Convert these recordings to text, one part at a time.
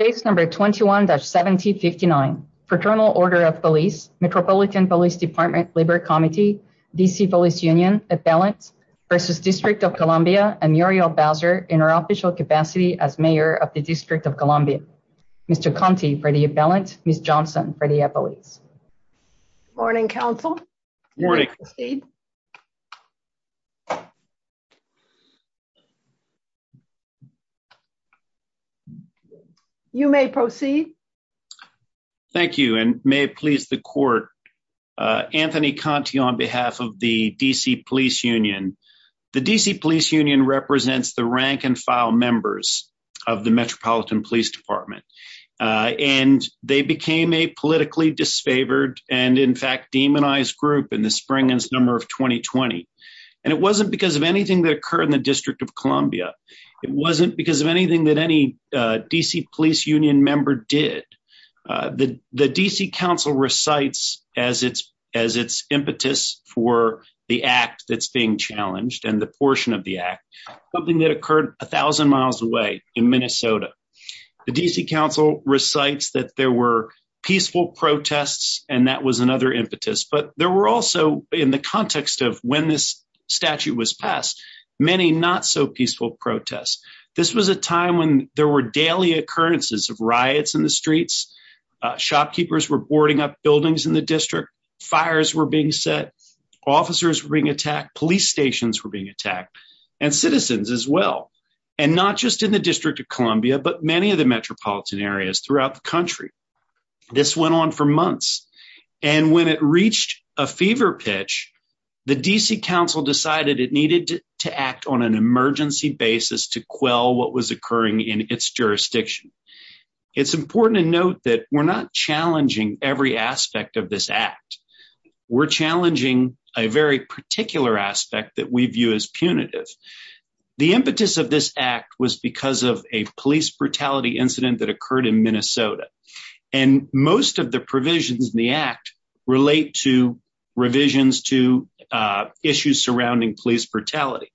21-1759, Fraternal Order of Police, Metropolitan Police Department, Labor Committee, DC Police Union, Appellant, vs. District of Columbia, and Muriel Bowser, in her official capacity as Mayor of the District of Columbia. Mr. Conte for the Appellant, Ms. Johnson for the Appellant. Good morning, counsel. Good morning. You may proceed. Thank you, and may it please the court, Anthony Conte on behalf of the DC Police Union. The DC Police Union represents the rank and file members of the Metropolitan Police Department, and they became a politically disfavored and in fact demonized group in the spring and summer of 2020. And it wasn't because of anything that occurred in the District of Columbia. It wasn't because of anything that any DC Police Union member did. The DC Council recites as its as its impetus for the act that's being challenged and the portion of the act, something that occurred 1000 miles away in Minnesota. The DC Council recites that there were peaceful protests, and that was another impetus. But there were also in the context of when this statute was passed, many not so peaceful protests. This was a time when there were daily occurrences of riots in the streets. shopkeepers were boarding up buildings in the district, fires were being set, officers ring attack, police stations were being attacked, and citizens as well. And not just in the District of Columbia, but many of the metropolitan areas throughout the country. This went on for months. And when it reached a fever pitch, the DC Council decided it needed to act on an emergency basis to quell what was occurring in its jurisdiction. It's important to note that we're not challenging every aspect of this act. We're challenging a very particular aspect that we view as punitive. The impetus of this act was because of a police brutality incident that occurred in Minnesota. And most of the provisions in the act relate to revisions to issues surrounding police brutality.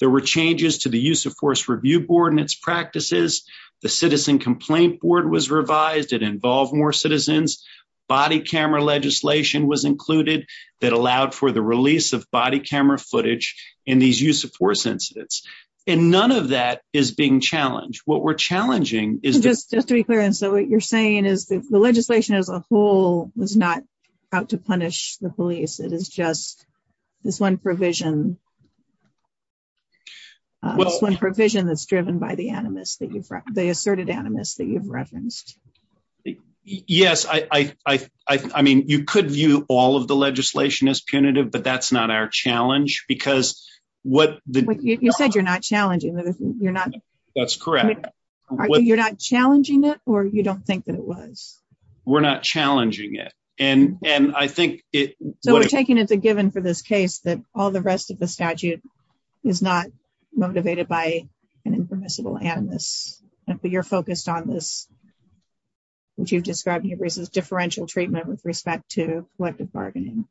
There were changes to the use of force review board and its practices. The body camera legislation was included that allowed for the release of body camera footage in these use of force incidents. And none of that is being challenged. What we're challenging is just to be clear. And so what you're saying is the legislation as a whole was not out to punish the police. It is just this one provision. One provision that's driven by the animus that I mean, you could view all of the legislation as punitive, but that's not our challenge because what you said, you're not challenging. You're not. That's correct. You're not challenging it or you don't think that it was. We're not challenging it. And I think it. So we're taking it as a given for this case that all the rest of the statute is not motivated by an impermissible animus. But you're focused on this, which you've described, differential treatment with respect to collective bargaining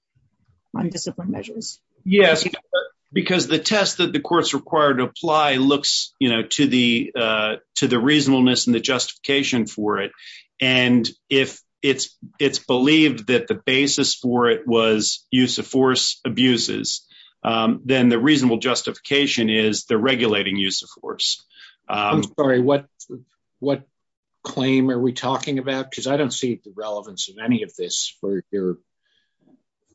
on discipline measures. Yes, because the test that the courts required to apply looks to the reasonableness and the justification for it. And if it's believed that the basis for it was use of force abuses, then the reasonable justification is the regulating use of force. I'm sorry, what what claim are we talking about? Because I don't see the relevance of any of this for your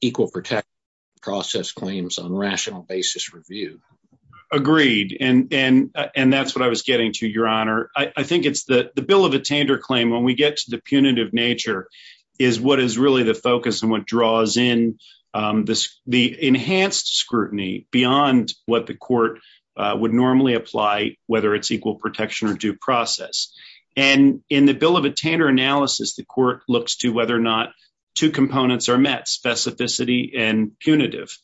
equal protection process claims on rational basis review. Agreed. And that's what I was getting to, Your Honor. I think it's the bill of attainder claim when we get to the punitive nature is what is really the focus and what draws in the enhanced scrutiny beyond what the court would normally apply, whether it's equal protection or due process. And in the bill of attainder analysis, the court looks to whether or not two components are met specificity and punitive.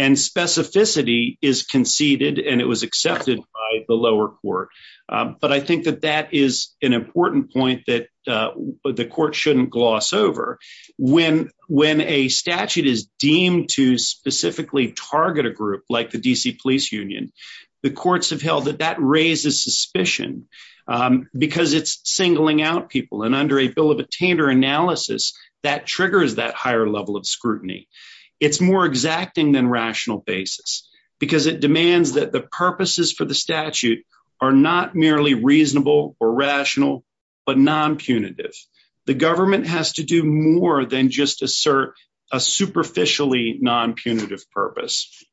And specificity is conceded and it was accepted by the lower court. But I think that that is an important point that the court shouldn't gloss over when when a statute is deemed to specifically target a group like the D.C. Police Union, the courts have held that that raises suspicion because it's singling out people. And under a bill of attainder analysis, that triggers that higher level of scrutiny. It's more exacting than rational basis because it demands that the purposes for the statute are not merely reasonable or rational, but non-punitive. The non-punitive purpose.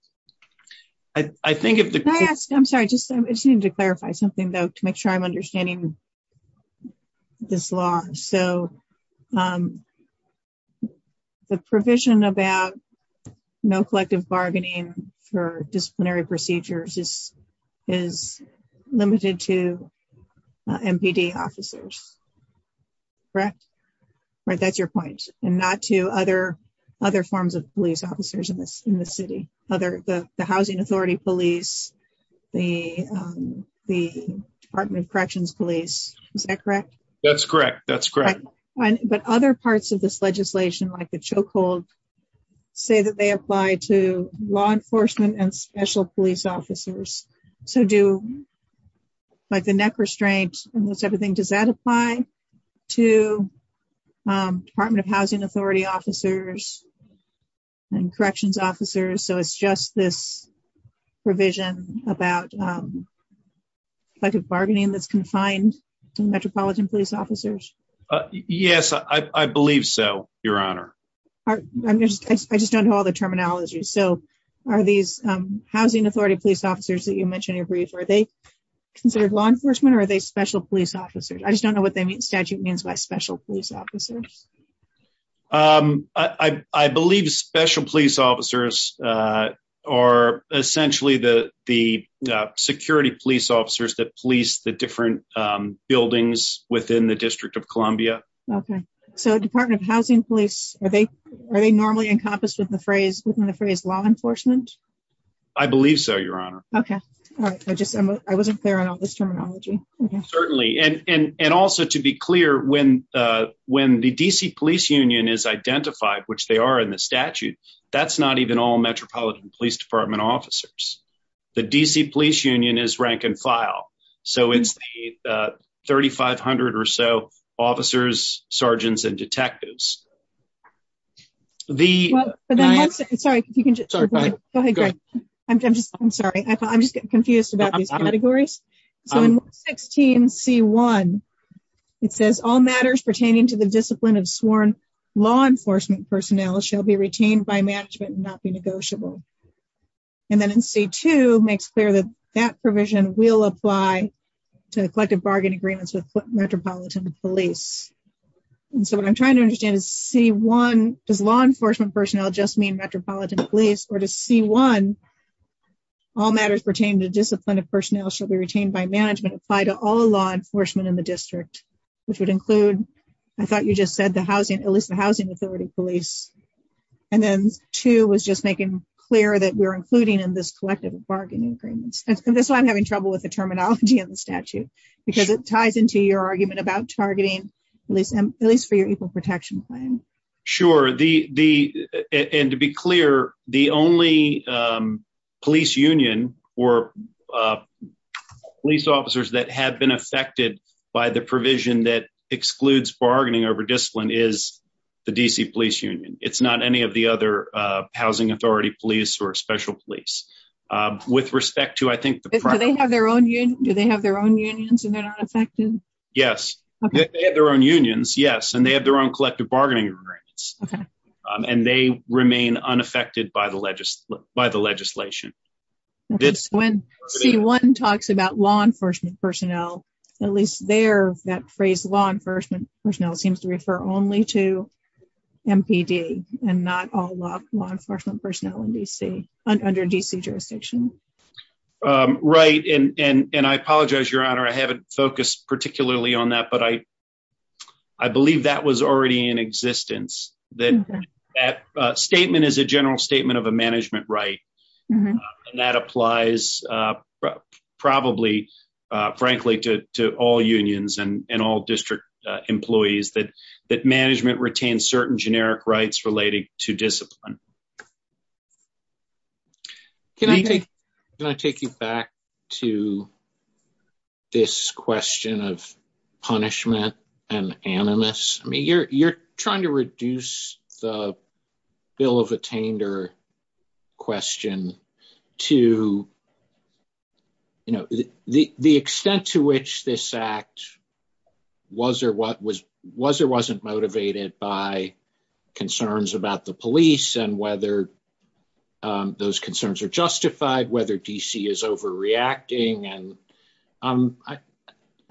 I think if I ask, I'm sorry, I just need to clarify something, though, to make sure I'm understanding this law. So the provision about no collective bargaining for disciplinary procedures is is limited to MPD officers. Correct. Right. That's your point. And not to other other forms of police officers in this in the city, other the housing authority police, the the Department of Corrections police. Is that correct? That's correct. That's correct. But other parts of this legislation, like the chokehold, say that they apply to law enforcement and special police officers. So do. Like the neck restraint and everything, does that apply to Department of Housing Authority officers and corrections officers? So it's just this provision about collective bargaining that's confined to metropolitan police officers? Yes, I believe so, Your Honor. I just don't know all the terminology. So are these housing authority police officers that you mentioned in your brief, are they considered law enforcement or are they special police officers? I just don't know what they mean. Statute means by special police officers. I believe special police officers are essentially the the security police officers that police the different buildings within the District of Columbia. OK, so Department of Housing Police, are they are they normally encompassed with the phrase within the phrase law enforcement? I believe so, Your Honor. OK. All right. I just I wasn't there on all this terminology. Certainly. And also, to be clear, when the D.C. Police Union is identified, which they are in the statute, that's not even all Metropolitan Police Department officers. The D.C. Police Union is rank and file. So it's 3,500 or so officers, sergeants and So in 16C1, it says all matters pertaining to the discipline of sworn law enforcement personnel shall be retained by management and not be negotiable. And then in C2 makes clear that that provision will apply to collective bargain agreements with Metropolitan Police. And so what I'm trying to understand is C1, does law enforcement personnel just mean personnel shall be retained by management applied to all law enforcement in the district, which would include I thought you just said the housing, at least the housing authority police. And then two was just making clear that we're including in this collective bargaining agreements. And that's why I'm having trouble with the terminology in the statute, because it ties into your argument about targeting police, at least for your equal protection plan. Sure. And to be clear, the only police union or police officers that have been affected by the provision that excludes bargaining over discipline is the D.C. Police Union. It's not any of the other housing authority police or special police. With respect to I think- Do they have their own unions and they're not affected? Yes, they have their own unions. Yes. And they have their own collective bargaining agreements. And they remain unaffected by the legislation. When C1 talks about law enforcement personnel, at least there, that phrase law enforcement personnel seems to refer only to MPD and not all law enforcement personnel in D.C., under D.C. jurisdiction. Right. And I apologize, Your Honor, I haven't focused particularly on that, but I believe that was already in existence. That statement is a general statement of a management right. And that applies probably, frankly, to all unions and all district employees, that management retains certain generic rights related to discipline. Can I take- Can I take you back to this question of punishment and animus? I mean, you're trying to reduce the bill of attainder question to, you know, the extent to which this act was or wasn't motivated by concerns about the police and whether those concerns are justified, whether D.C. is overreacting. And I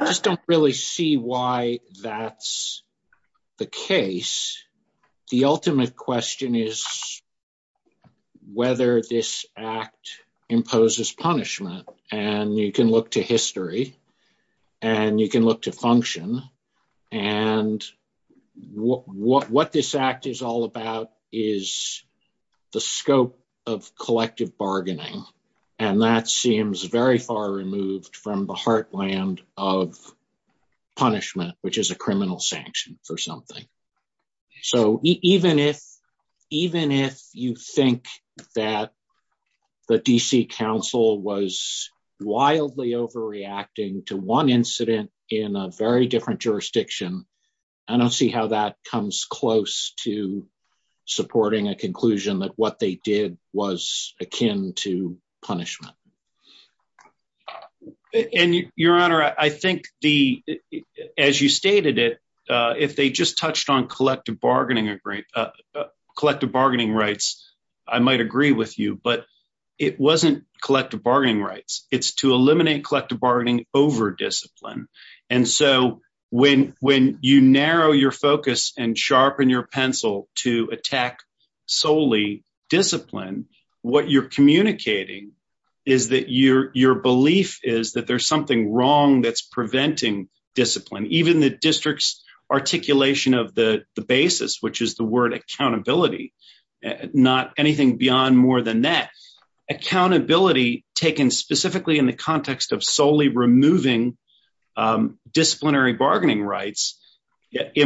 just don't really see why that's the case. The ultimate question is whether this act imposes punishment. And you can look to history and you can look to function. And what this act is all about is the scope of collective bargaining. And that seems very far removed from the heartland of punishment, which is a criminal sanction for something. So even if- even if you think that the D.C. council was wildly overreacting to one incident in a very different jurisdiction, I don't see how that comes close to supporting a conclusion that what they did was akin to punishment. And your honor, I think the- as you stated it, if they just touched on collective bargaining, collective bargaining rights, I might agree with you, but it wasn't collective bargaining rights. It's to eliminate collective bargaining over discipline. And so when you narrow your focus and sharpen your pencil to attack solely discipline, what you're communicating is that your belief is that there's something wrong that's preventing discipline. Even the district's articulation of the basis, which is the word accountability, not anything beyond more than that. Accountability taken specifically in the context of solely removing disciplinary bargaining rights. I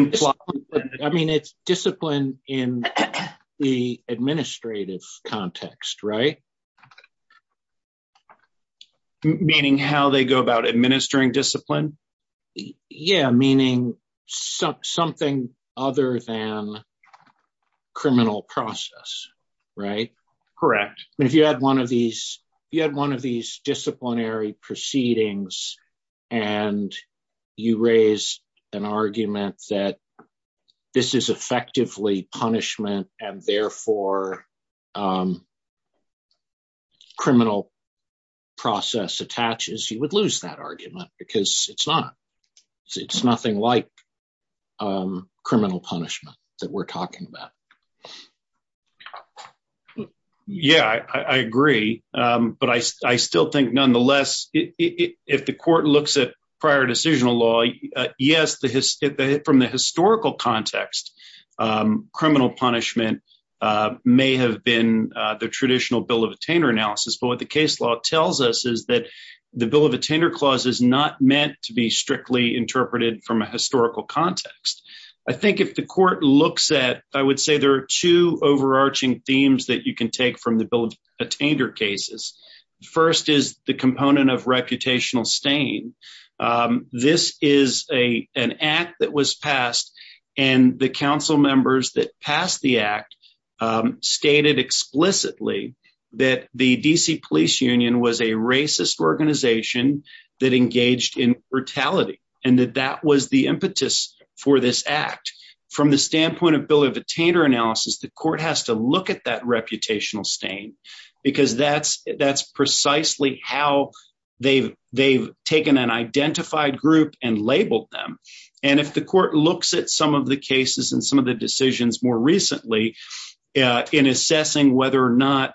mean, it's discipline in the administrative context, right? Meaning how they go about administering discipline? Yeah, meaning something other than criminal process, right? Correct. If you had one of these disciplinary proceedings and you raise an argument that this is effectively punishment and therefore criminal process attaches, you would lose that argument because it's not. It's nothing like criminal punishment that we're talking about. Yeah, I agree. But I still think nonetheless, if the court looks at prior decisional law, yes, from the historical context, criminal punishment may have been the traditional bill of attainder analysis. But what the case law tells us is that the bill of attainder clause is not meant to be strictly interpreted from a historical context. I think if the court looks at, I would say there are two overarching themes that you can take from the bill of attainder cases. First is the component of reputational stain. This is an act that was passed and the council members that passed the act stated explicitly that the DC Police Union was a racist organization that engaged in brutality and that that was the impetus for this act. From the standpoint of bill of attainder analysis, the court has to look at that reputational stain because that's precisely how they've taken an identified group and labeled them. And if the court looks at some of the cases and some of the decisions more recently in assessing whether or not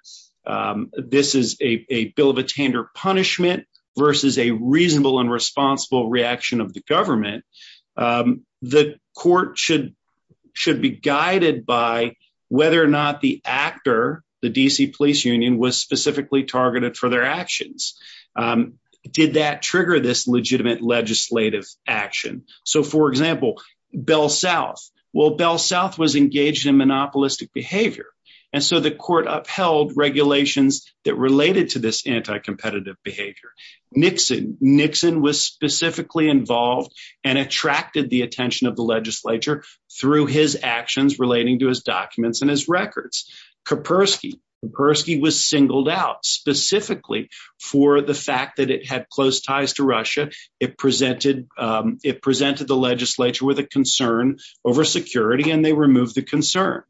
this is a bill of attainder punishment versus a reasonable and responsible reaction of the court, it should be guided by whether or not the actor, the DC Police Union, was specifically targeted for their actions. Did that trigger this legitimate legislative action? So, for example, Bell South. Well, Bell South was engaged in monopolistic behavior and so the court upheld regulations that related to this anti-competitive behavior. Nixon. Nixon was specifically involved and attracted the attention of the legislature through his actions relating to his documents and his records. Kapersky. Kapersky was singled out specifically for the fact that it had close ties to Russia. It presented the legislature with a concern over security and they removed the concern.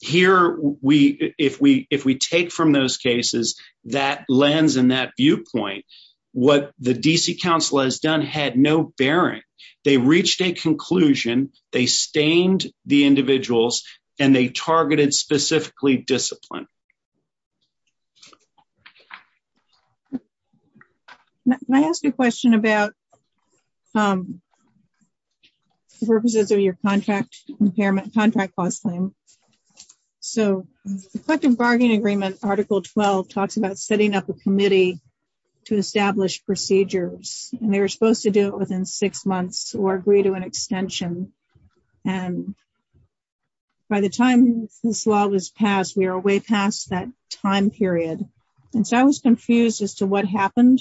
Here, if we take from those cases that lens and that viewpoint, what the DC council has had no bearing. They reached a conclusion. They stained the individuals and they targeted specifically discipline. Can I ask a question about the purposes of your contract impairment contract clause claim? So, the collective bargaining agreement article 12 talks about setting up a committee to establish procedures and they were supposed to do it within six months or agree to an extension and by the time this law was passed, we are way past that time period and so I was confused as to what happened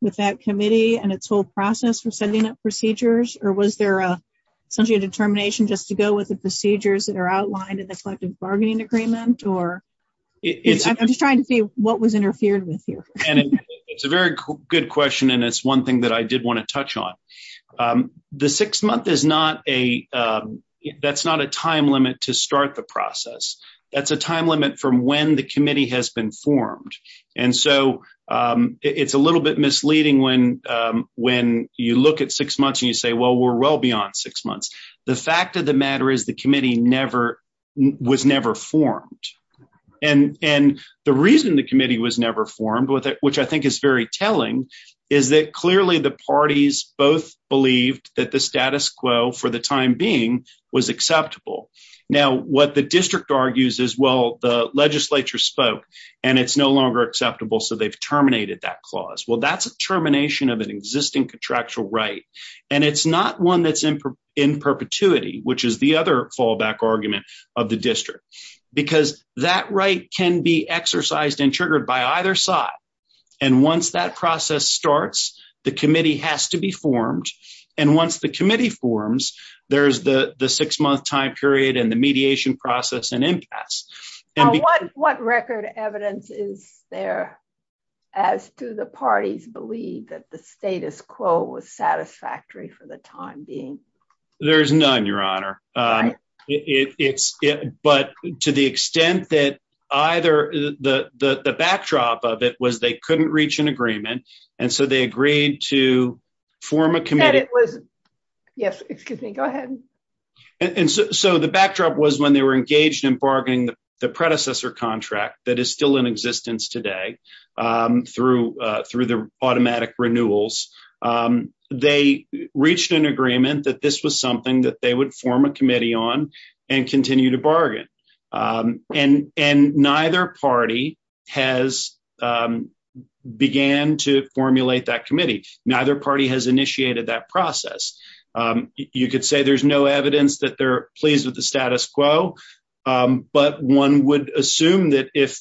with that committee and its whole process for setting up procedures or was there essentially a determination just to go with the procedures that are outlined in the collective bargaining agreement? I'm just trying to see what was interfered with here. It's a very good question and it's one thing that I did want to touch on. The six month is not a time limit to start the process. That's a time limit from when the committee has been formed and so it's a little bit misleading when you look at six months and you say well we're well on six months. The fact of the matter is the committee was never formed and the reason the committee was never formed, which I think is very telling, is that clearly the parties both believed that the status quo for the time being was acceptable. Now, what the district argues is well the legislature spoke and it's no longer acceptable so they've terminated that clause. Well, that's a termination of an existing contractual right and it's not one that's in perpetuity, which is the other fallback argument of the district, because that right can be exercised and triggered by either side and once that process starts the committee has to be formed and once the committee forms there's the the six month time period and the mediation process and What record evidence is there as to the parties believe that the status quo was satisfactory for the time being? There's none, your honor, but to the extent that either the backdrop of it was they couldn't reach an agreement and so they agreed to form a committee. Yes, excuse me, go ahead. And so the backdrop was when they were engaged in bargaining the predecessor contract that is still in existence today through the automatic renewals, they reached an agreement that this was something that they would form a committee on and continue to bargain and neither party has began to formulate that committee. Neither party has initiated that process. You could say there's no evidence that they're pleased with the status quo, but one would assume that if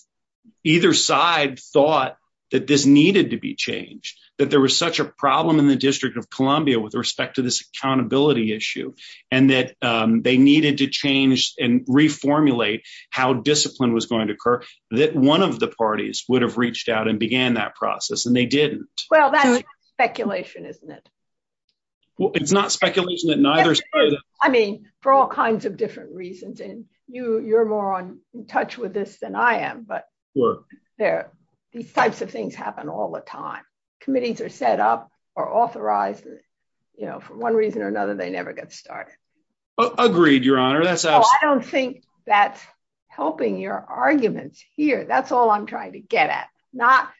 either side thought that this needed to be changed, that there was such a problem in the District of Columbia with respect to this accountability issue and that they needed to change and reformulate how discipline was going to occur that one of the parties would have reached out and began that process and they didn't. Well, that's speculation, isn't it? Well, it's not speculation that neither side. I mean, for all kinds of different reasons and you're more in touch with this than I am, but these types of things happen all the time. Committees are set up or authorized, you know, for one reason or another, they never get started. Agreed, your honor. I don't think that's helping your arguments here. That's all I'm trying to get not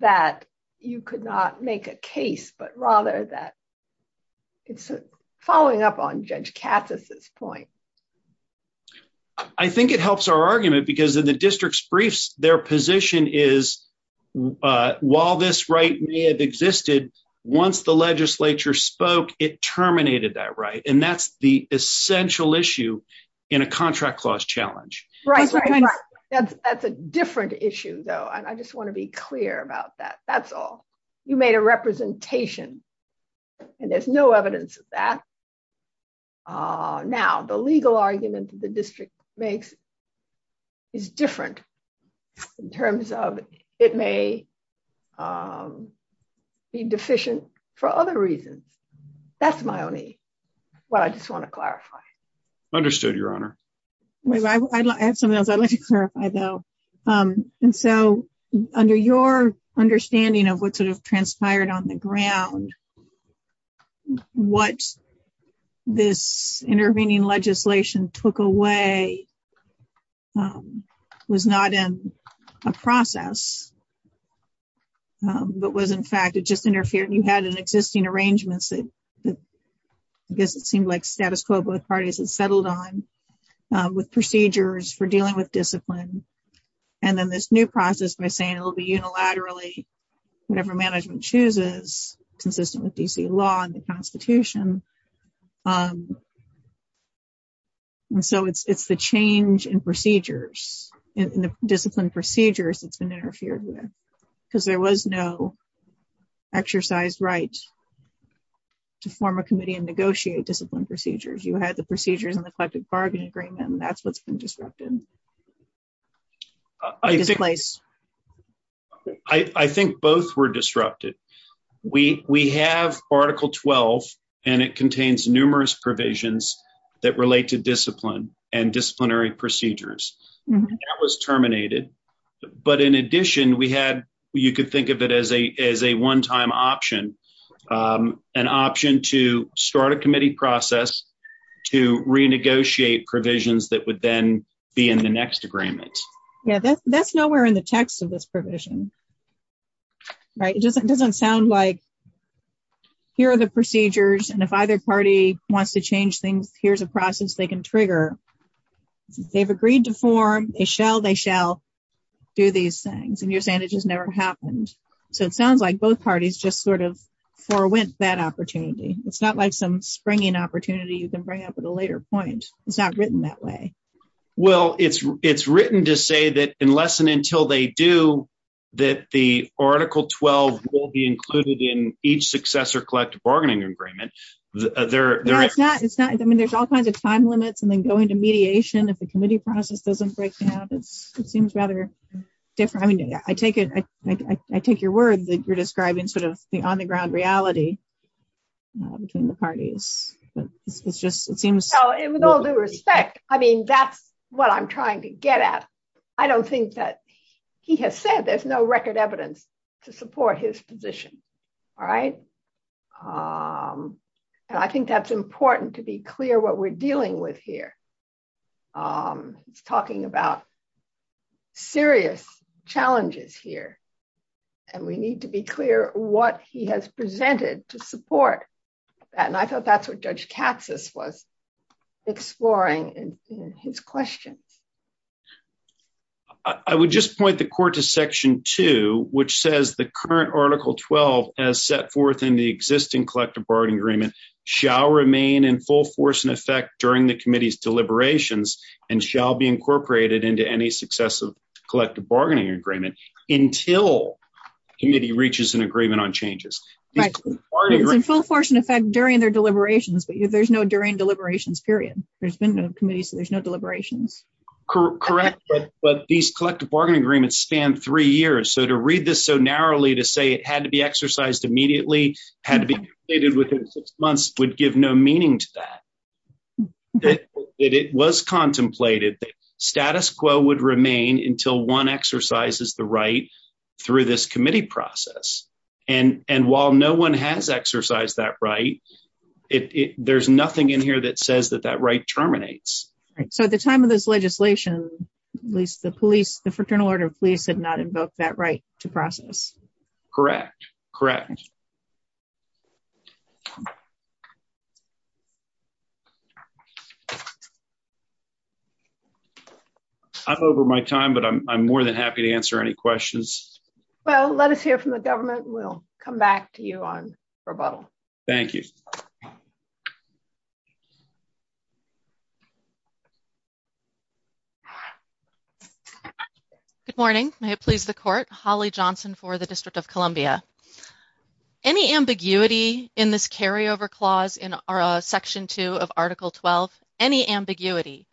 that you could not make a case, but rather that it's following up on Judge Katz's point. I think it helps our argument because in the district's briefs, their position is, while this right may have existed, once the legislature spoke, it terminated that right, and that's the essential issue in a contract clause challenge. Right, that's a different issue though and I just want to be clear about that. That's all. You made a representation and there's no evidence of that. Now, the legal argument the district makes is different in terms of it may be deficient for other reasons. That's my only, what I just want to clarify. Understood, your honor. I have something else I'd like to clarify though. And so, under your understanding of what sort of transpired on the ground, what this intervening legislation took away was not in a process, but was in fact, it just interfered. You had an existing arrangements that, I guess it seemed like status quo, both parties had settled on with procedures for dealing with discipline. And then, this new process by saying it will be unilaterally, whatever management chooses, consistent with D.C. law and the constitution. And so, it's the change in procedures, in the discipline procedures, that's been interfered because there was no exercise right to form a committee and negotiate discipline procedures. You had the procedures in the collective bargain agreement and that's what's been disrupted. I think both were disrupted. We have article 12 and it contains numerous provisions that relate to discipline and disciplinary procedures. That was terminated, but in addition, you could think of it as a one-time option. An option to start a committee process to renegotiate provisions that would then be in the next agreement. That's nowhere in the text of this provision. It doesn't sound like here are the procedures and if either party wants to change things, here's a process they can trigger. They've agreed to form, they shall do these things and you're saying it just never happened. So, it sounds like both parties just sort of forwent that opportunity. It's not like some springing opportunity you can bring up at a later point. It's not written that way. Well, it's written to say that unless and until they do, that the article 12 will be included in each successor collective bargaining agreement. There's all kinds of time limits and then going to mediation. If the committee process doesn't break down, it seems rather different. I mean, I take it, I take your word that you're describing sort of the on-the-ground reality between the parties, but it's just, it seems. So, with all due respect, I mean, that's what I'm trying to get at. I don't think that he has said there's no record evidence to support his position. All right. And I think that's important to be clear what we're dealing with here. He's talking about serious challenges here and we need to be clear what he has presented to support that. And I thought that's what Judge Katsas was exploring in his questions. I would just point the court to section two, which says the current article 12 has set forth in the existing collective bargaining agreement shall remain in full force and effect during the committee's deliberations and shall be incorporated into any successive collective bargaining agreement until committee reaches an agreement on changes. Right. It's in full force and effect during their deliberations, but there's no during deliberations period. There's been no committee, so there's no deliberations. Correct. But these collective bargaining agreements span three years. So, to read this so narrowly to say it had to be exercised immediately, had to be completed within six months would give no meaning to that. It was contemplated that status quo would remain until one exercises the right through this committee process. And while no one has exercised that right, there's nothing in here that says that that right terminates. So, at the time of this legislation, at least the police, the Fraternal Order of Police had not invoked that right to process. Correct. Correct. I'm over my time, but I'm more than happy to answer any questions. Well, let us hear from the government. We'll come back to you on rebuttal. Thank you. Good morning. May it please the Court. Holly Johnson for the District of Columbia. Any ambiguity in this carryover clause in Section 2 of Article 12, any ambiguity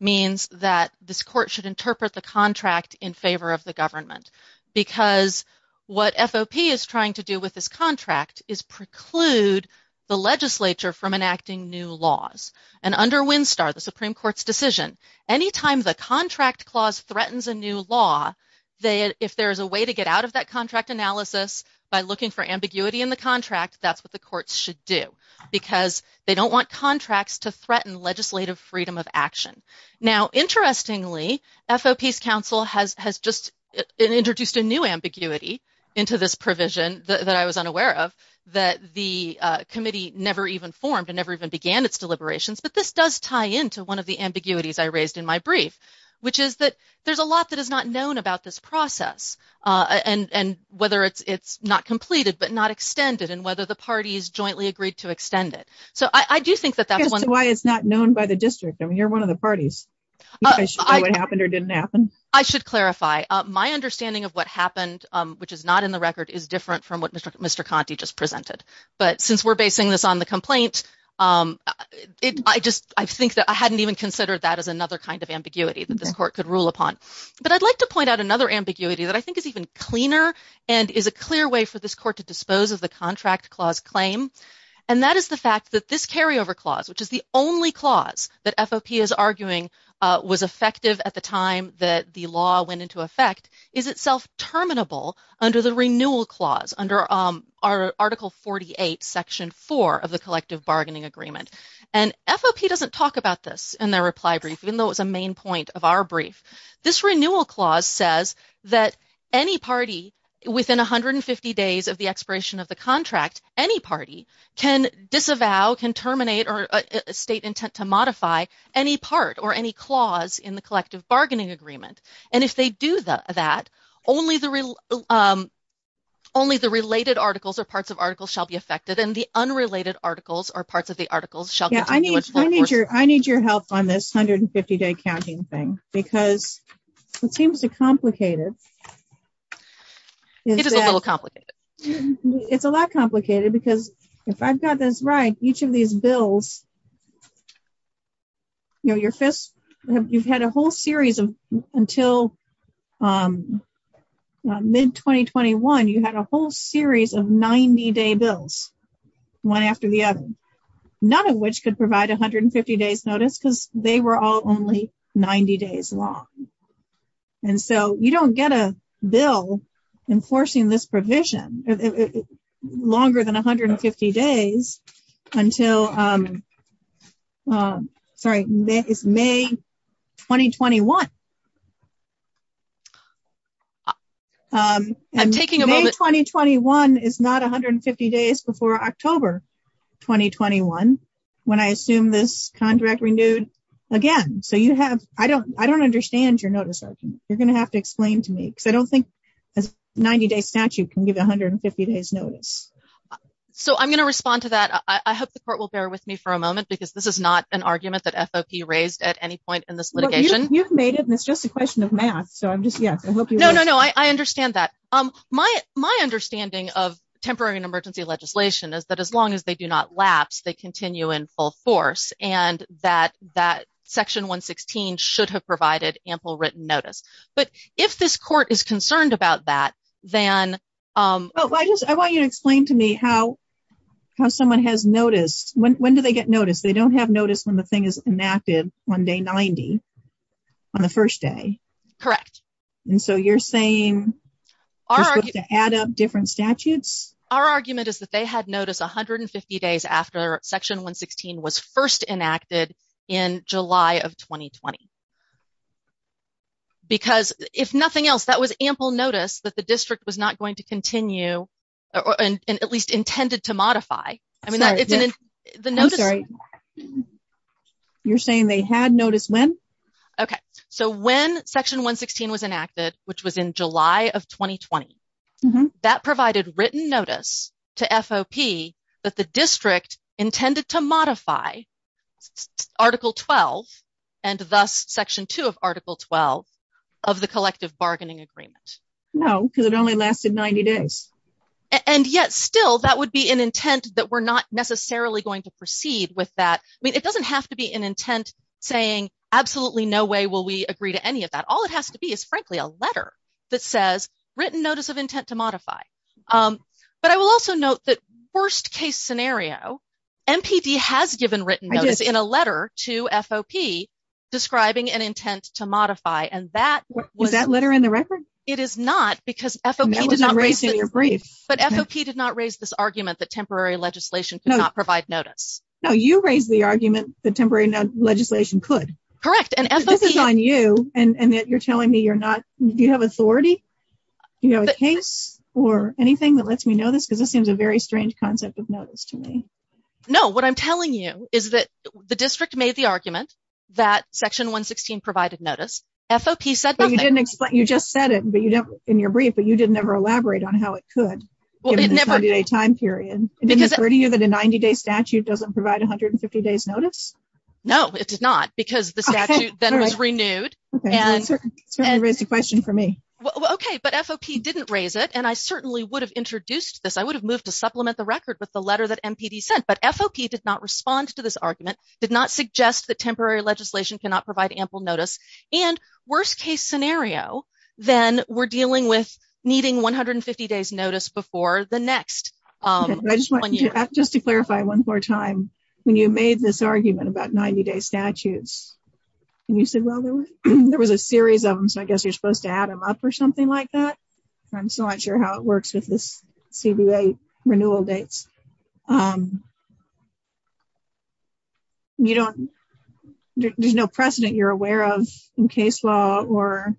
means that this Court should interpret the contract in favor of the government, because what FOP is trying to do with this contract is preclude the legislature from decision. Anytime the contract clause threatens a new law, if there's a way to get out of that contract analysis by looking for ambiguity in the contract, that's what the courts should do, because they don't want contracts to threaten legislative freedom of action. Now, interestingly, FOP's counsel has just introduced a new ambiguity into this provision that I was unaware of, that the committee never even formed and never even began its deliberations, but this does tie into one of the ambiguities I raised in my brief, which is that there's a lot that is not known about this process, and whether it's not completed, but not extended, and whether the parties jointly agreed to extend it. So I do think that that's why it's not known by the district. I mean, you're one of the parties. I should clarify. My understanding of what happened, which is not in the record, is different from what Mr. Conte just presented, but since we're basing this on the complaint, I just think that I hadn't even considered that as another kind of ambiguity that this court could rule upon. But I'd like to point out another ambiguity that I think is even cleaner and is a clear way for this court to dispose of the contract clause claim, and that is the fact that this carryover clause, which is the only clause that FOP is arguing was effective at the time that the law went into effect, is itself terminable under the renewal clause under Article 48, Section 4 of the Collective Bargaining Agreement. And FOP doesn't talk about this in their reply brief, even though it's a main point of our brief. This renewal clause says that any party within 150 days of the expiration of the contract, any party, can disavow, can terminate, or state intent to modify any part or any clause in the Collective Bargaining Agreement. And if they do that, only the related articles or parts of articles shall be affected, and the unrelated articles or parts of the articles shall continue. I need your help on this 150-day counting thing, because it seems to complicated. It is a little complicated. It's a lot complicated, because if I've got this right, each of these bills, you know, you've had a whole series of, until mid-2021, you had a whole series of 90-day bills, one after the other, none of which could provide a 150-days notice, because they were all only 90 days long. And so you don't get a bill enforcing this provision longer than 150 days until, sorry, it's May 2021. I'm taking a moment. May 2021 is not 150 days before October 2021, when I assume this contract renewed again. So you have, I don't, I don't understand your notice. You're going to have to explain to me, because I don't think a 90-day statute can give 150 days notice. So I'm going to respond to that. I hope the Court will bear with me for a moment, because this is not an argument that FOP raised at any point in this litigation. You've made it, and it's just a question of math. So I'm just, yes, I hope you... No, no, no, I understand that. My understanding of temporary and emergency legislation is that as long as they do not lapse, they continue in full force, and that Section 116 should have provided ample written notice. But if this how someone has noticed, when do they get notice? They don't have notice when the thing is enacted on day 90, on the first day. Correct. And so you're saying just to add up different statutes? Our argument is that they had notice 150 days after Section 116 was first enacted in July of 2020. Because if nothing else, that was ample notice that the district was not going to continue, and at least intended to modify. I mean, the notice... I'm sorry. You're saying they had notice when? Okay. So when Section 116 was enacted, which was in July of 2020, that provided written notice to FOP that the district intended to modify Article 12, and thus Section 2 of Article 12 of the Collective Bargaining Agreement. No, because it only lasted 90 days. And yet still, that would be an intent that we're not necessarily going to proceed with that. I mean, it doesn't have to be an intent saying, absolutely no way will we agree to any of that. All it has to be is, frankly, a letter that says, written notice of intent to modify. But I will also note that worst case scenario, MPD has given written notice in a letter to FOP describing an intent to modify, and that... It is not, because FOP did not raise... I'm erasing your brief. But FOP did not raise this argument that temporary legislation could not provide notice. No, you raised the argument that temporary legislation could. Correct, and FOP... This is on you, and that you're telling me you're not... Do you have authority? Do you have a case or anything that lets me know this? Because this seems a very strange concept of notice to me. No, what I'm telling you is that the district made the argument that Section 116 provided notice. FOP said nothing. You just said it in your brief, but you didn't ever elaborate on how it could, given the 30-day time period. Didn't it occur to you that a 90-day statute doesn't provide 150 days notice? No, it did not, because the statute then was renewed. Okay, you certainly raised a question for me. Well, okay, but FOP didn't raise it, and I certainly would have introduced this. I would have moved to supplement the record with the letter that MPD sent, but FOP did not respond to this argument, did not suggest that temporary scenario. Then we're dealing with needing 150 days notice before the next one year. Just to clarify one more time, when you made this argument about 90-day statutes, and you said, well, there was a series of them, so I guess you're supposed to add them up or something like that. I'm still not sure how it works with this CBA renewal dates. There's no precedent you're aware of in case law or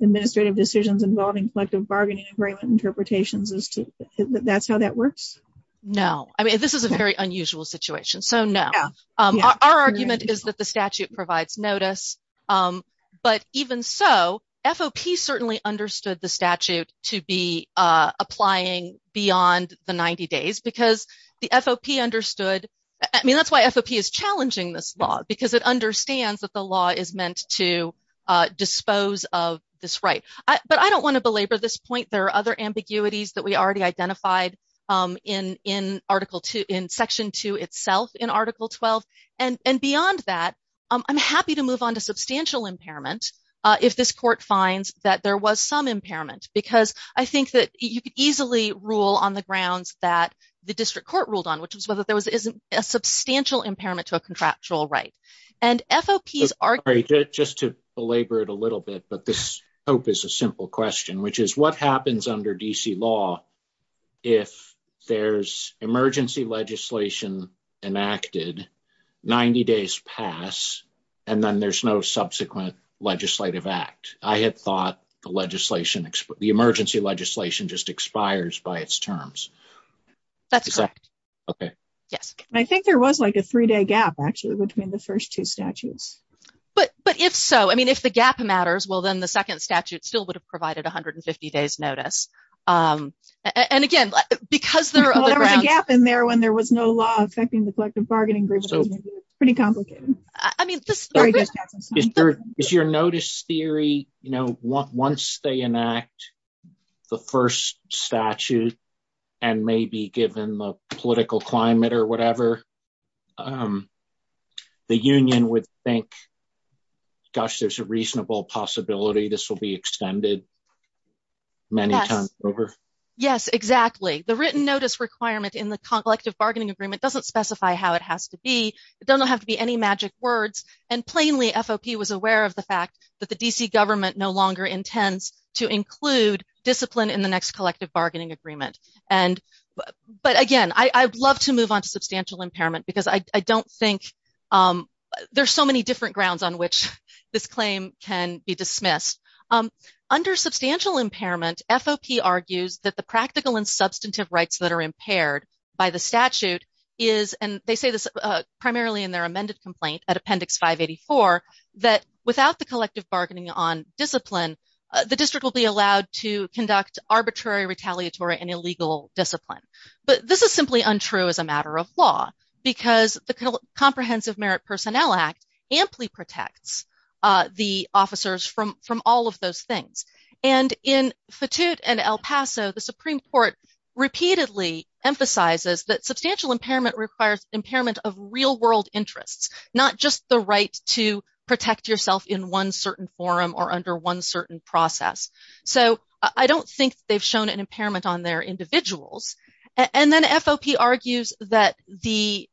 administrative decisions involving collective bargaining agreement interpretations as to that's how that works? No, I mean, this is a very unusual situation, so no. Our argument is that the statute provides notice, but even so, FOP certainly understood the statute to be applying beyond the 90 days, because the FOP understood. I mean, that's why FOP is challenging this law, because it understands that the law is meant to dispose of this right, but I don't want to belabor this point. There are other ambiguities that we already identified in Section 2 itself, in Article 12, and beyond that, I'm happy to move on to substantial impairment, if this court finds that there was some impairment, because I think that you could easily rule on the grounds that the district court ruled on, which was whether there was a substantial impairment to a contractual right, and FOP's argument... Sorry, just to belabor it a little bit, but this hope is a simple question, which is what happens under DC law if there's emergency legislation enacted, 90 days pass, and then there's no subsequent legislative act? I had thought the legislation, the emergency legislation just expires by its terms. That's correct. Okay. Yes. I think there was like a three-day gap, actually, between the first two statutes. But if so, I mean, if the gap matters, well, then the second statute still would have provided 150 days notice. And again, because there are other grounds... Well, there was a gap in there when there was no law affecting the collective bargaining group, so it's pretty complicated. I mean... Is your notice theory, you know, once they enact the first statute, and maybe given the political climate or whatever, the union would think, gosh, there's a reasonable possibility this will be extended many times over? Yes, exactly. The written notice requirement in the collective bargaining agreement doesn't specify how it has to be. It doesn't have to be any magic words. And plainly, FOP was aware of the fact that the DC government no longer intends to include discipline in the next collective bargaining agreement. But again, I'd love to move on to substantial impairment, because I don't think... There's so many different grounds on which this claim can be dismissed. Under substantial impairment, FOP argues that the practical and substantive rights that are impaired by the statute is, and they say this primarily in their amended complaint at appendix 584, that without the collective bargaining on discipline, the district will be allowed to conduct arbitrary retaliatory and illegal discipline. But this is simply untrue as a matter of law, because the Comprehensive Merit Personnel Act amply protects the officers from all of those things. And in Fatute and El Paso, the Supreme Court repeatedly emphasizes that substantial impairment requires impairment of real world interests, not just the right to protect yourself in one certain forum or under one certain process. So I don't think they've an impairment on their individuals. And then FOP argues that the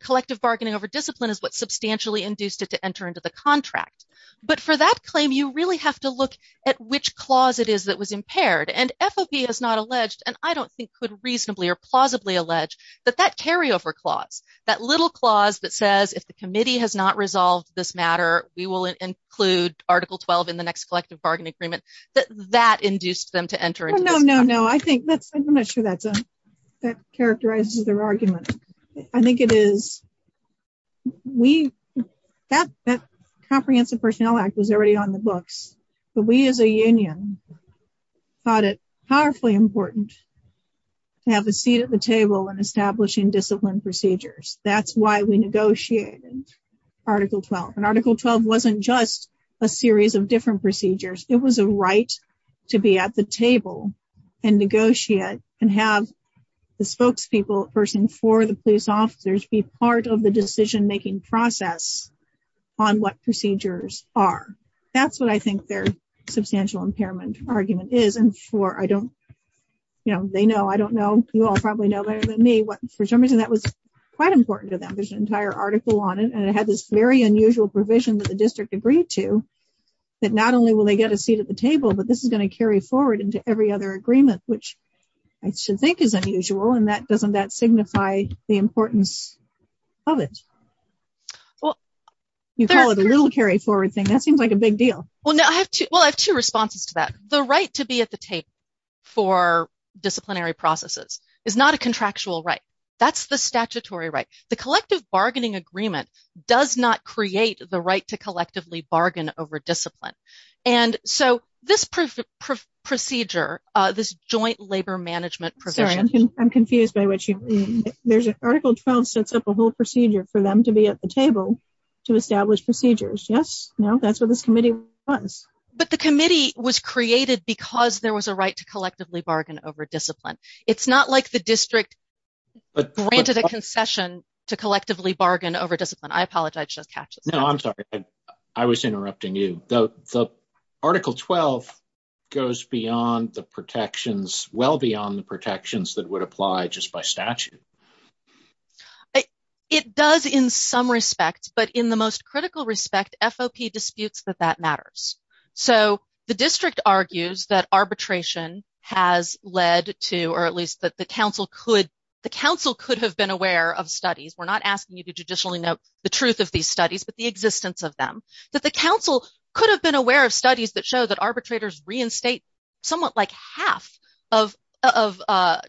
collective bargaining over discipline is what substantially induced it to enter into the contract. But for that claim, you really have to look at which clause it is that was impaired. And FOP has not alleged, and I don't think could reasonably or plausibly allege, that that carryover clause, that little clause that says, if the committee has not resolved this matter, we will include Article 12 in the next bargain agreement, that that induced them to enter. No, no, no. I think that's, I'm not sure that characterizes their argument. I think it is, we, that Comprehensive Personnel Act was already on the books, but we as a union thought it powerfully important to have a seat at the table in establishing discipline procedures. That's why we negotiated Article 12. And Article 12 wasn't just a series of different procedures. It was a right to be at the table and negotiate and have the spokespeople person for the police officers be part of the decision-making process on what procedures are. That's what I think their substantial impairment argument is. And for, I don't, you know, they know, I don't know, you all probably know better than me, but for some reason that was quite important to them. There's an entire article on it and it had this very unusual provision that the district agreed to, that not only will they get a seat at the table, but this is going to carry forward into every other agreement, which I should think is unusual. And that doesn't, that signify the importance of it. Well, you call it a little carry forward thing. That seems like a big deal. Well, no, I have two, well, I have two responses to that. The right to be at the table for disciplinary processes is not a contractual right. That's statutory right. The collective bargaining agreement does not create the right to collectively bargain over discipline. And so this procedure, this joint labor management provision. I'm confused by what you mean. Article 12 sets up a whole procedure for them to be at the table to establish procedures. Yes, no, that's what this committee was. But the committee was created because there was a right to collectively bargain over discipline. It's not like the district granted a concession to collectively bargain over discipline. I apologize. No, I'm sorry. I was interrupting you. The Article 12 goes beyond the protections, well beyond the protections that would apply just by statute. It does in some respects, but in the most critical respect, FOP disputes that that matters. So the district argues that arbitration has led to, or at least that the council could have been aware of studies. We're not asking you to judicially note the truth of these studies, but the existence of them. That the council could have been aware of studies that show that arbitrators reinstate somewhat like half of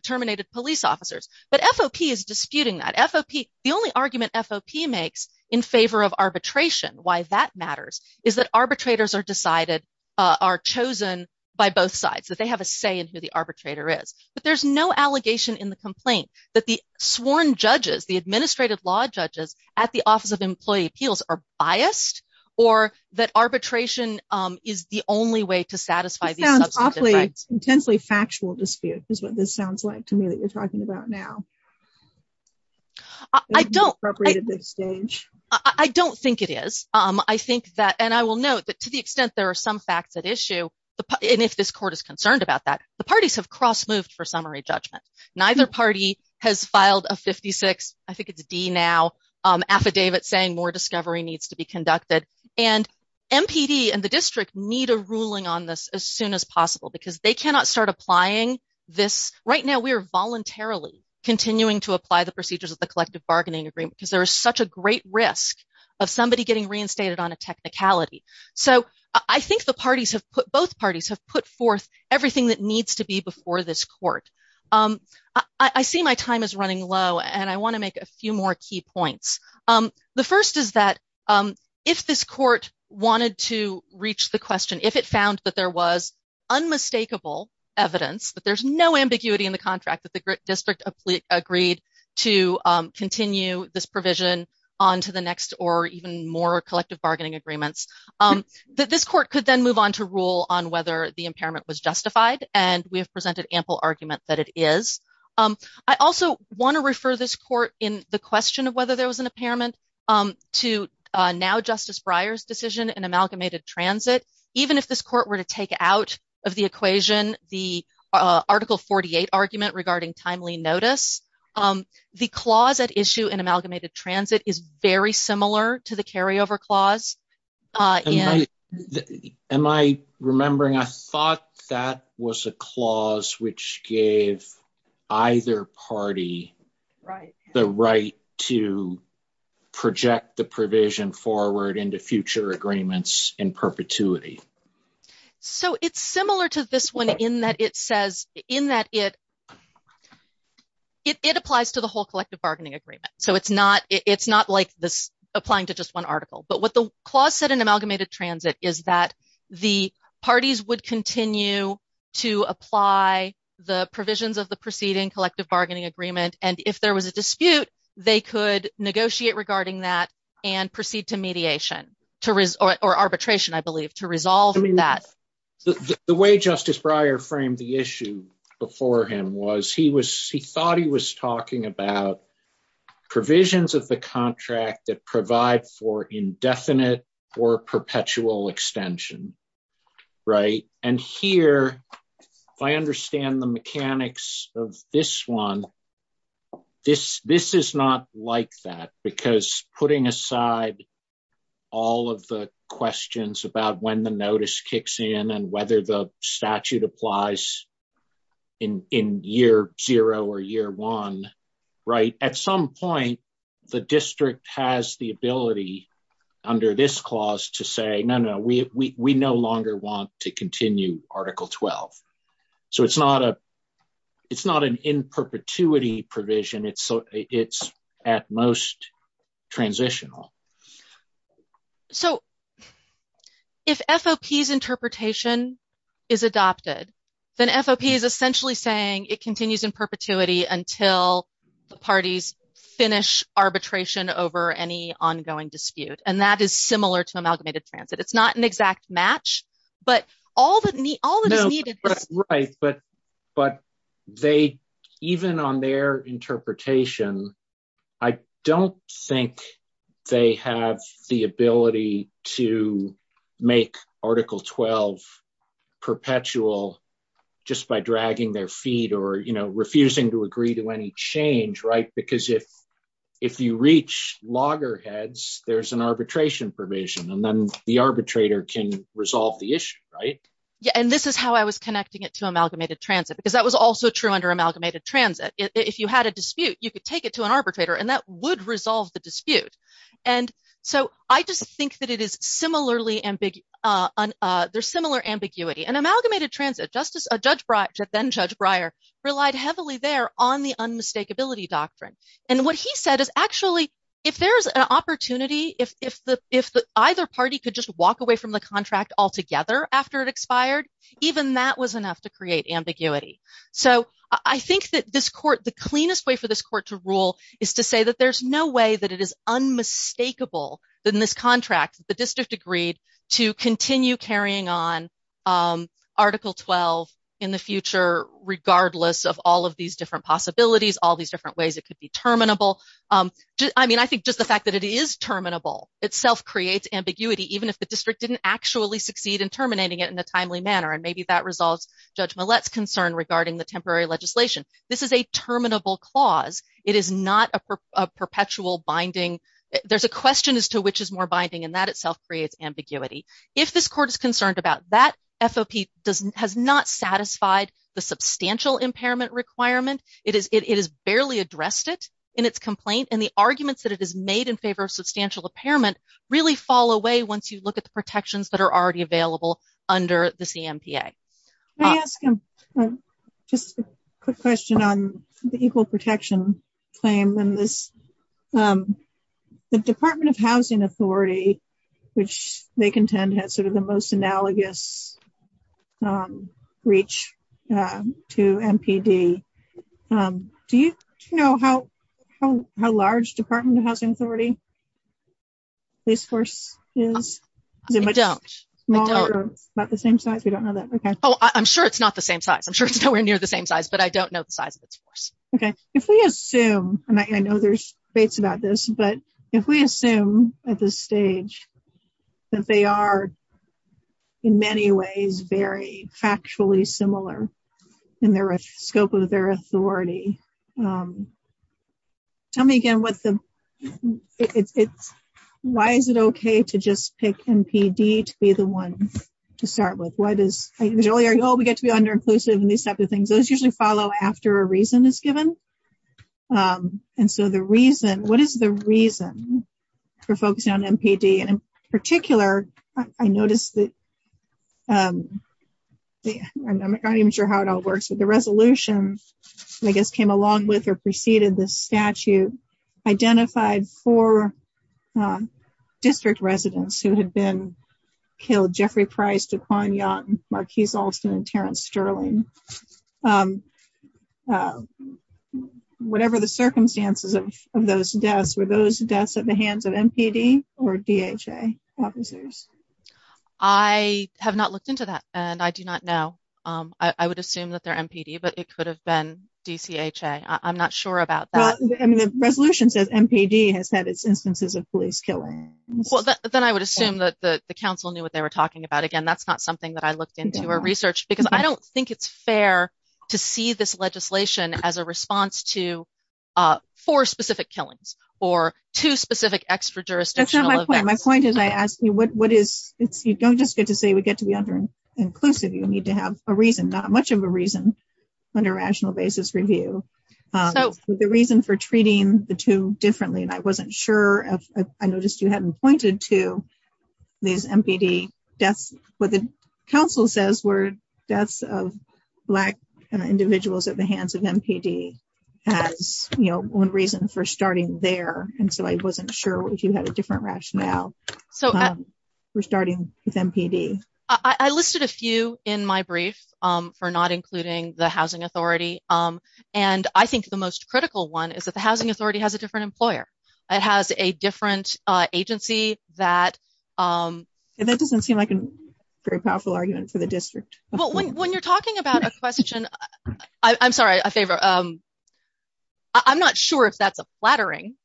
terminated police officers. But FOP is disputing that. The only argument FOP makes in favor of arbitration, why that matters, is that arbitrators are chosen by both sides, that they have a say in who the arbitrator is. But there's no allegation in the complaint that the sworn judges, the administrative law judges at the Office of Employee Appeals are biased, or that arbitration is the only way to satisfy these substantive rights. Intensely factual dispute is what this sounds like to me that you're talking about now. I don't think it is. I think that, and I will note that to the extent there are some facts at issue, and if this court is concerned about that, the parties have cross-moved for summary judgment. Neither party has filed a 56, I think it's D now, affidavit saying more discovery needs to be conducted. And MPD and the district need a ruling on this as soon as possible because they cannot start applying this. Right now we are voluntarily continuing to apply the procedures of the collective bargaining agreement because there is such a great risk of somebody getting reinstated on a technicality. So I think the parties have put, both parties have put forth everything that needs to be before this court. I see my time is running low and I want to make a few more key points. The first is that if this court wanted to reach the question, if it found that there was unmistakable evidence, that there's no ambiguity in the contract that the district agreed to continue this provision on to the next or even more collective bargaining agreements, this court could then move on to rule on whether the impairment was justified, and we have presented ample argument that it is. I also want to refer this court in the question of whether there was an impairment to now Justice Breyer's decision in amalgamated transit. Even if this court were to take out of the equation the Article 48 argument regarding timely notice, the clause at issue in amalgamated transit is very similar to the carryover clause. Am I remembering, I thought that was a clause which gave either party the right to project the provision forward into future agreements in perpetuity. So it's similar to this one in that it applies to the whole collective bargaining agreement. So it's not like this applying to just one article, but what the clause said in amalgamated transit is that the parties would continue to apply the provisions of the preceding collective bargaining agreement, and if there was a dispute they could negotiate regarding that and proceed to mediation or arbitration, I believe, to resolve that. The way Justice Breyer framed the issue before him was he thought he was talking about provisions of the contract that provide for indefinite or perpetual extension. And here, if I understand the mechanics of this one, this is not like that, because putting aside all of the questions about when the notice kicks in and whether the statute applies in year zero or year one, at some point the district has the ability under this clause to say, no, no, we no longer want to continue article 12. So it's not an in-perpetuity provision, it's at most transitional. So if FOP's interpretation is adopted, then FOP is essentially saying it continues in perpetuity until the parties finish arbitration over any ongoing dispute, and that is similar to amalgamated transit. It's not an exact match, but all that is needed... Right, but they, even on their interpretation, I don't think they have the ability to make article 12 perpetual just by dragging their feet or, you know, refusing to agree to any change, right? Because if you reach loggerheads, there's an arbitration provision, and then the arbitrator can resolve the issue, right? Yeah, and this is how I was connecting it to amalgamated transit, because that was also true under amalgamated transit. If you had a dispute, you could take it to an arbitrator, and that would resolve the dispute. And so I just think that it is similarly... there's similar ambiguity. And amalgamated transit, Justice... Judge Breyer, then Judge Breyer, relied heavily there on the there's an opportunity, if either party could just walk away from the contract altogether after it expired, even that was enough to create ambiguity. So I think that this court, the cleanest way for this court to rule is to say that there's no way that it is unmistakable that in this contract, the district agreed to continue carrying on article 12 in the future, regardless of all of these different possibilities, all these different ways it could be terminable. I mean, I think the fact that it is terminable itself creates ambiguity, even if the district didn't actually succeed in terminating it in a timely manner, and maybe that resolves Judge Millett's concern regarding the temporary legislation. This is a terminable clause. It is not a perpetual binding. There's a question as to which is more binding, and that itself creates ambiguity. If this court is concerned about that, FOP has not satisfied the substantial impairment requirement. It has barely addressed it in its complaint, and the arguments that it has made in favor of substantial impairment really fall away once you look at the protections that are already available under the CMPA. Can I ask just a quick question on the equal protection claim? The Department of Housing Authority, which they contend has sort of the most analogous reach to MPD. Do you know how large Department of Housing Authority police force is? I don't. Is it much smaller or about the same size? We don't know that. Oh, I'm sure it's not the same size. I'm sure it's nowhere near the same size, but I don't know the size of its force. Okay. If we assume, and I know there's debates about this, but if we assume at this stage that they are in many ways very factually similar in the scope of their authority, tell me again, why is it okay to just pick MPD to be the one to start with? Why does, oh, we get to be underinclusive and these types of things. Those usually follow after a reason is given, and so the reason, what is the reason for focusing on MPD and particular, I noticed that, I'm not even sure how it all works, but the resolution, I guess, came along with or preceded the statute, identified four district residents who had been killed, Jeffrey Price, Duquan Young, Marquise Alston, and Terrence Sterling. Whatever the circumstances of those deaths, were those deaths at the hands of MPD or DHA officers? I have not looked into that, and I do not know. I would assume that they're MPD, but it could have been DCHA. I'm not sure about that. I mean, the resolution says MPD has had its instances of police killings. Well, then I would assume that the council knew what they were talking about. Again, that's not something that I looked into or researched, because I don't think it's fair to see this legislation as a response to four specific killings or two specific extra-jurisdictional events. That's not my point. My point is, I asked you, you don't just get to say we get to be underinclusive. You need to have a reason, not much of a reason, under a rational basis review. The reason for treating the two differently, and I wasn't sure, I noticed you hadn't pointed to these MPD deaths. What the council says were deaths of Black individuals at the hands of MPD as one reason for starting there, and so I wasn't sure if you had a different rationale for starting with MPD. I listed a few in my brief for not including the housing authority, and I think the most it has a different agency. That doesn't seem like a very powerful argument for the district. Well, when you're talking about a question, I'm sorry, I'm not sure if that's a flattering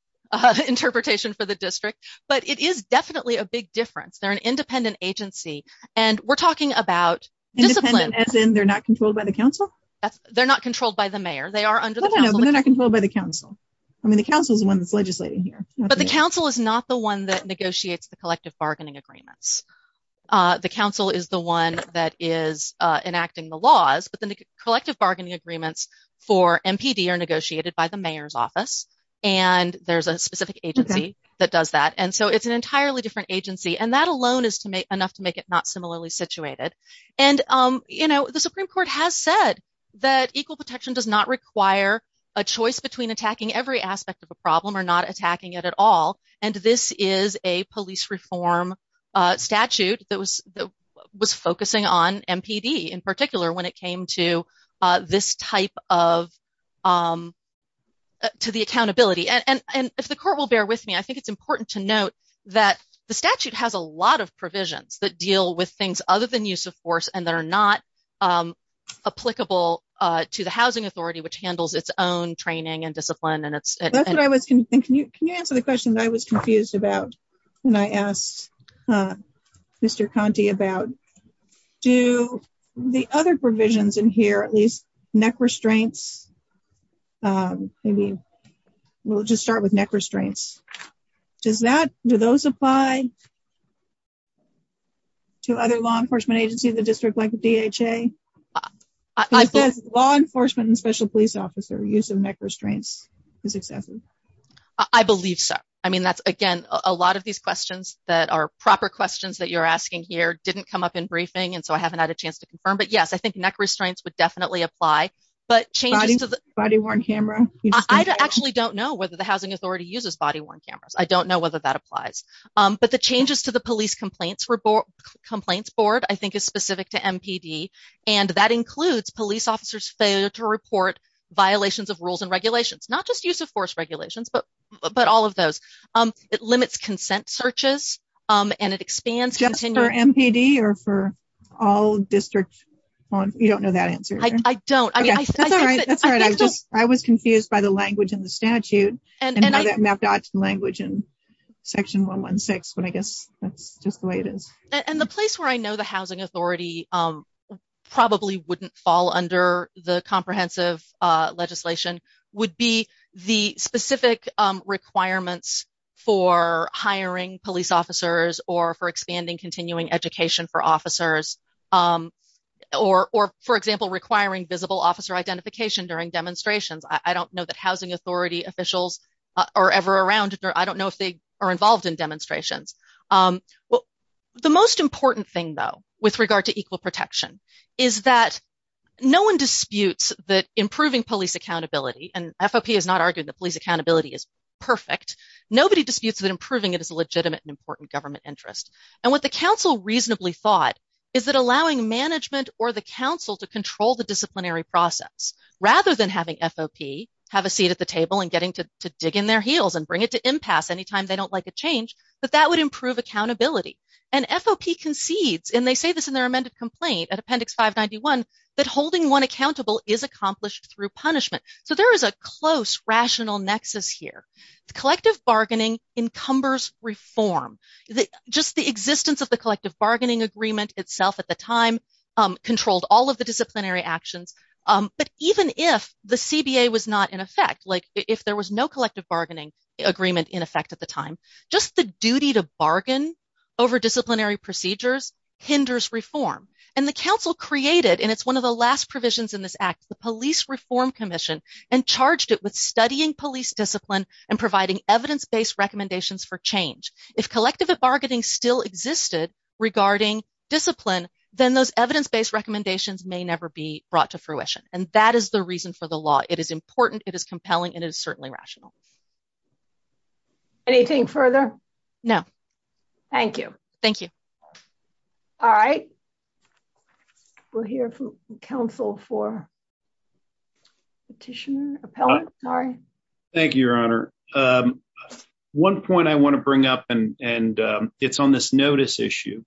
interpretation for the district, but it is definitely a big difference. They're an independent agency, and we're talking about... Independent, as in they're not controlled by the council? They're not controlled by the mayor. They're not controlled by the council. I mean, the council is the one that's legislating here. But the council is not the one that negotiates the collective bargaining agreements. The council is the one that is enacting the laws, but the collective bargaining agreements for MPD are negotiated by the mayor's office, and there's a specific agency that does that, and so it's an entirely different agency, and that alone is enough to make it not similarly situated, and the Supreme Court has said that equal protection does not require a choice between attacking every aspect of a problem or not attacking it at all, and this is a police reform statute that was focusing on MPD in particular when it came to this type of... To the accountability, and if the court will bear with me, I think it's important to note that the statute has a lot of provisions that deal with things other than use of force and that are not applicable to the housing authority, which handles its own training and discipline, and it's... That's what I was thinking. Can you answer the question that I was confused about when I asked Mr. Conte about, do the other provisions in here, at least neck restraints, maybe we'll just start with neck restraints, does that... Do those apply to other law enforcement agencies, the district like the DHA? It says law enforcement and special police officer use of neck restraints is excessive. I believe so. I mean, that's, again, a lot of these questions that are proper questions that you're asking here didn't come up in briefing, and so I haven't had a chance to confirm, but yes, neck restraints would definitely apply, but changes to the... Body-worn camera. I actually don't know whether the housing authority uses body-worn cameras. I don't know whether that applies, but the changes to the police complaints board, I think, is specific to MPD, and that includes police officers fail to report violations of rules and regulations, not just use of force regulations, but all of those. It limits consent searches, and it expands... MPD or for all district... You don't know that answer. I don't. That's all right. I was just... I was confused by the language in the statute, and by that map dot language in section 116, but I guess that's just the way it is. And the place where I know the housing authority probably wouldn't fall under the comprehensive legislation would be the specific requirements for hiring police officers or for expanding continuing education for officers or, for example, requiring visible officer identification during demonstrations. I don't know that housing authority officials are ever around, or I don't know if they are involved in demonstrations. The most important thing, though, with regard to equal protection is that no one disputes that improving police accountability, and FOP has not argued that police accountability is perfect. Nobody disputes that improving it is a legitimate and important government interest. And what the council reasonably thought is that allowing management or the council to control the disciplinary process, rather than having FOP have a seat at the table and getting to dig in their heels and bring it to impasse any time they don't like a change, that that would improve accountability. And FOP concedes, and they say this in their amended complaint at appendix 591, that holding one accountable is accomplished through punishment. So there is a close, rational nexus here. Collective bargaining encumbers reform. Just the existence of the collective bargaining agreement itself at the time controlled all of the disciplinary actions. But even if the CBA was not in effect, like if there was no collective bargaining agreement in effect at the time, just the duty to bargain over disciplinary procedures hinders reform. And the council created, and it's one of the last provisions in this act, the Police Reform Commission, and charged it with studying police discipline and providing evidence-based recommendations for change. If collective bargaining still existed regarding discipline, then those evidence-based recommendations may never be brought to fruition. And that is the reason for the law. It is important, it is compelling, and it is certainly rational. Anything further? No. Thank you. Thank you. All right. We'll hear from council for petition, appellate, sorry. Thank you, Your Honor. One point I want to bring up, and it's on this notice issue.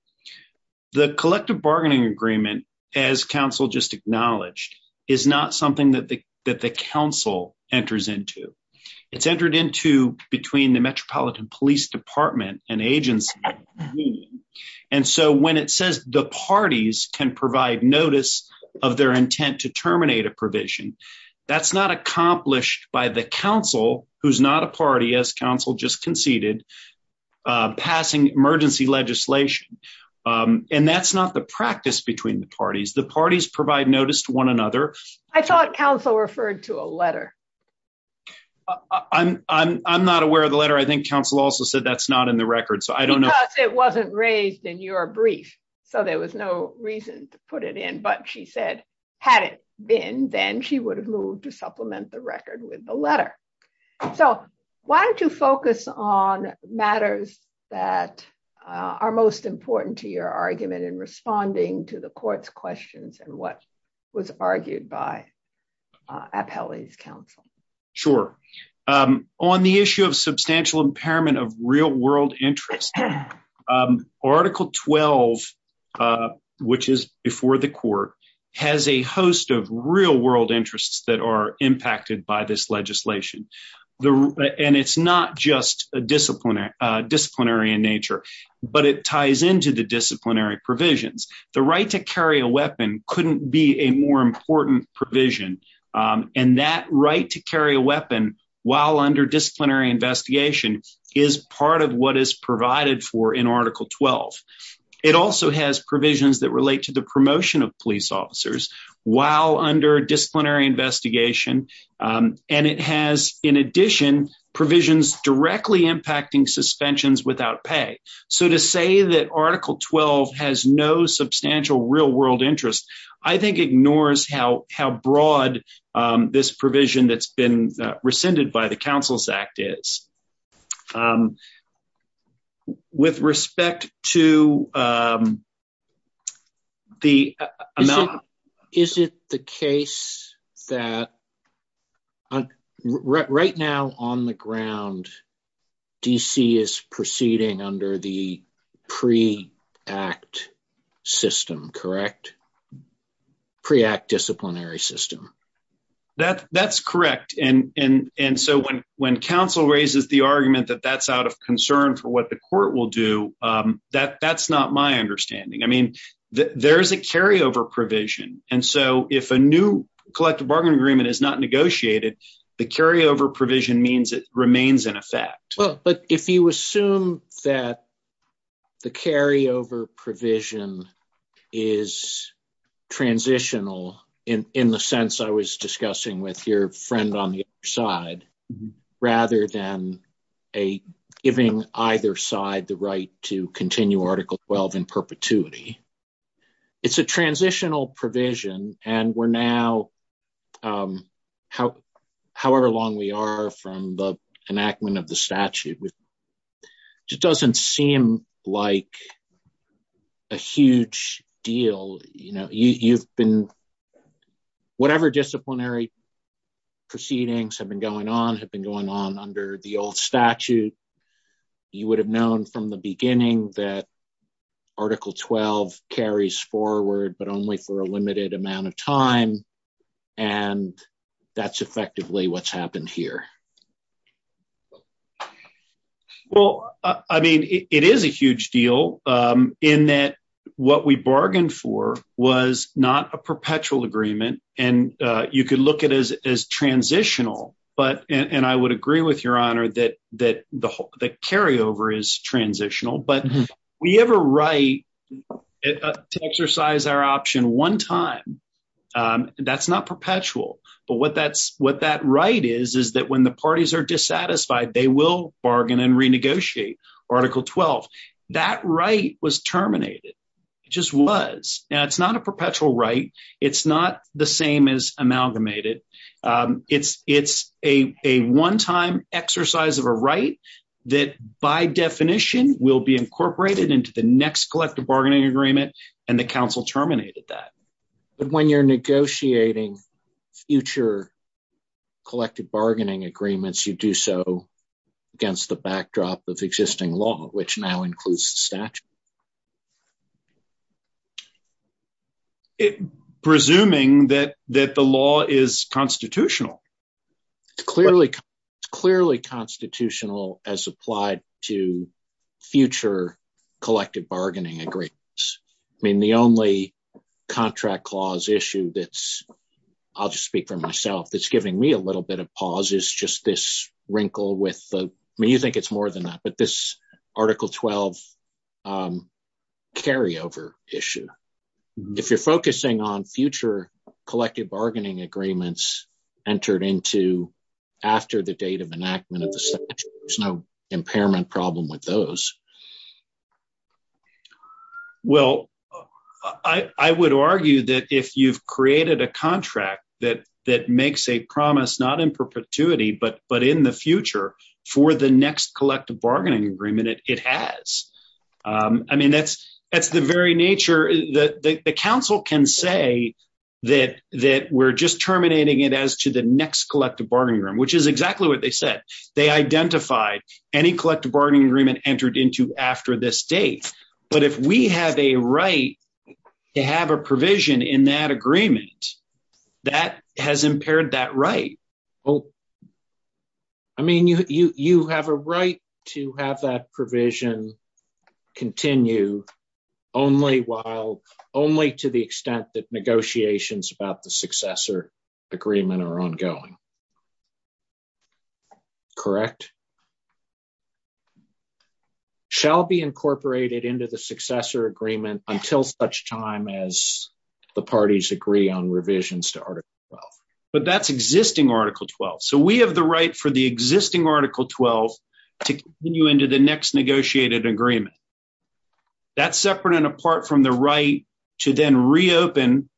The collective bargaining agreement, as council just acknowledged, is not something that the council enters into. It's entered into between the Metropolitan Police Department and agency. And so when it says the parties can provide notice of their intent to terminate a that's not accomplished by the council, who's not a party, as council just conceded, passing emergency legislation. And that's not the practice between the parties. The parties provide notice to one another. I thought council referred to a letter. I'm not aware of the letter. I think council also said that's not in the record, so I don't know. It wasn't raised in your brief, so there was no reason to put it in. But she said, had it been, then she would have moved to supplement the record with the letter. So why don't you focus on matters that are most important to your argument in responding to the court's questions and what was argued by appellate's counsel? Sure. On the issue of substantial impairment of real interest, article 12, which is before the court, has a host of real world interests that are impacted by this legislation. And it's not just disciplinary in nature, but it ties into the disciplinary provisions. The right to carry a weapon couldn't be a more important provision. And that right to carry a weapon while under disciplinary investigation is part of what is provided for in article 12. It also has provisions that relate to the promotion of police officers while under disciplinary investigation. And it has, in addition, provisions directly impacting suspensions without pay. So to say that article 12 has no substantial real world interest, I think ignores how broad this provision that's been rescinded by the counsel's act is. With respect to the amount... Is it the case that right now on the ground, DC is proceeding under the pre-act system, correct? Pre-act disciplinary system. That's correct. And so when counsel raises the argument that that's out of concern for what the court will do, that's not my understanding. I mean, there's a carryover provision. And so if a new collective bargain agreement is not negotiated, the carryover provision means it remains in effect. But if you assume that the carryover provision is transitional in the sense I was discussing with your friend on the other side, rather than giving either side the right to continue article 12 in perpetuity, it's a transitional provision. And however long we are from the enactment of the statute, it doesn't seem like a huge deal. Whatever disciplinary proceedings have been going on, have been going on under the old statute, you would have known from the beginning that article 12 carries forward, but only for a limited amount of time. And that's effectively what's happened here. Well, I mean, it is a huge deal in that what we bargained for was not a perpetual agreement. And you could look at it as transitional. And I would agree with your honor that carryover is transitional. But we have a right to exercise our option one time. That's not perpetual. But what that right is, is that when the parties are dissatisfied, they will bargain and renegotiate article 12. That right was terminated. It just was. Now, it's not a perpetual right. It's not the same as amalgamated. It's a one-time exercise of a right that, by definition, will be incorporated into the next collective bargaining agreement. And the council terminated that. But when you're negotiating future collective bargaining agreements, you do so against the backdrop of existing law, which now includes the statute. It presuming that that the law is constitutional, clearly, clearly constitutional as applied to future collective bargaining agreements. I mean, the only contract clause issue that's I'll just speak for myself, that's giving me a little bit of pause is just this wrinkle with me. You think it's more than that. But this article 12 carryover issue, if you're focusing on future collective bargaining agreements entered into after the date of enactment of the statute, there's no impairment problem with those. Well, I would argue that if you've created a contract that makes a promise not in perpetuity, but in the future for the next collective bargaining agreement, it has. I mean, that's the very nature. The council can say that we're just terminating it as to the next collective bargaining agreement, which is exactly what they said. They identified any collective bargaining agreement entered into after this date. But if we have a right to have a provision in that agreement, that has impaired that right. I mean, you have a right to have that provision continue only while only to the extent that negotiations about the successor agreement are ongoing. Correct. Shall be incorporated into the successor agreement until such time as the parties agree on revisions to Article 12. But that's existing Article 12. So we have the right for the existing Article 12 to continue into the next negotiated agreement. That's separate and apart from the right to then reopen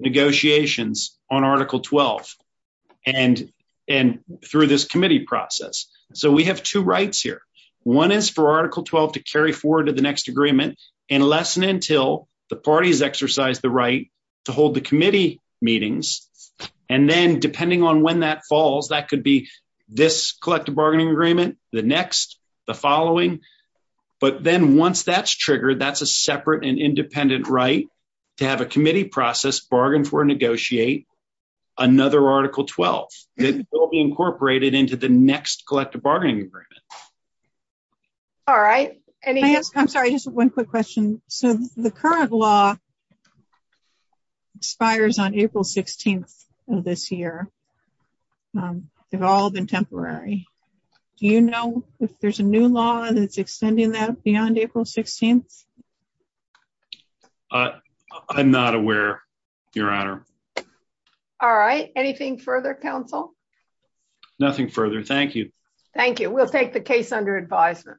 negotiations on Article 12 and through this committee process. So we have two rights here. One is for Article 12 to carry forward to the hold the committee meetings. And then depending on when that falls, that could be this collective bargaining agreement, the next, the following. But then once that's triggered, that's a separate and independent right to have a committee process bargain for negotiate another Article 12 incorporated into the next collective bargaining agreement. All right. I'm sorry, just one quick question. So the current law expires on April 16th of this year. They've all been temporary. Do you know if there's a new law that's extending that beyond April 16th? I'm not aware, Your Honor. All right. Anything further, counsel? Nothing further. Thank you. Thank you. We'll take the case under advisement.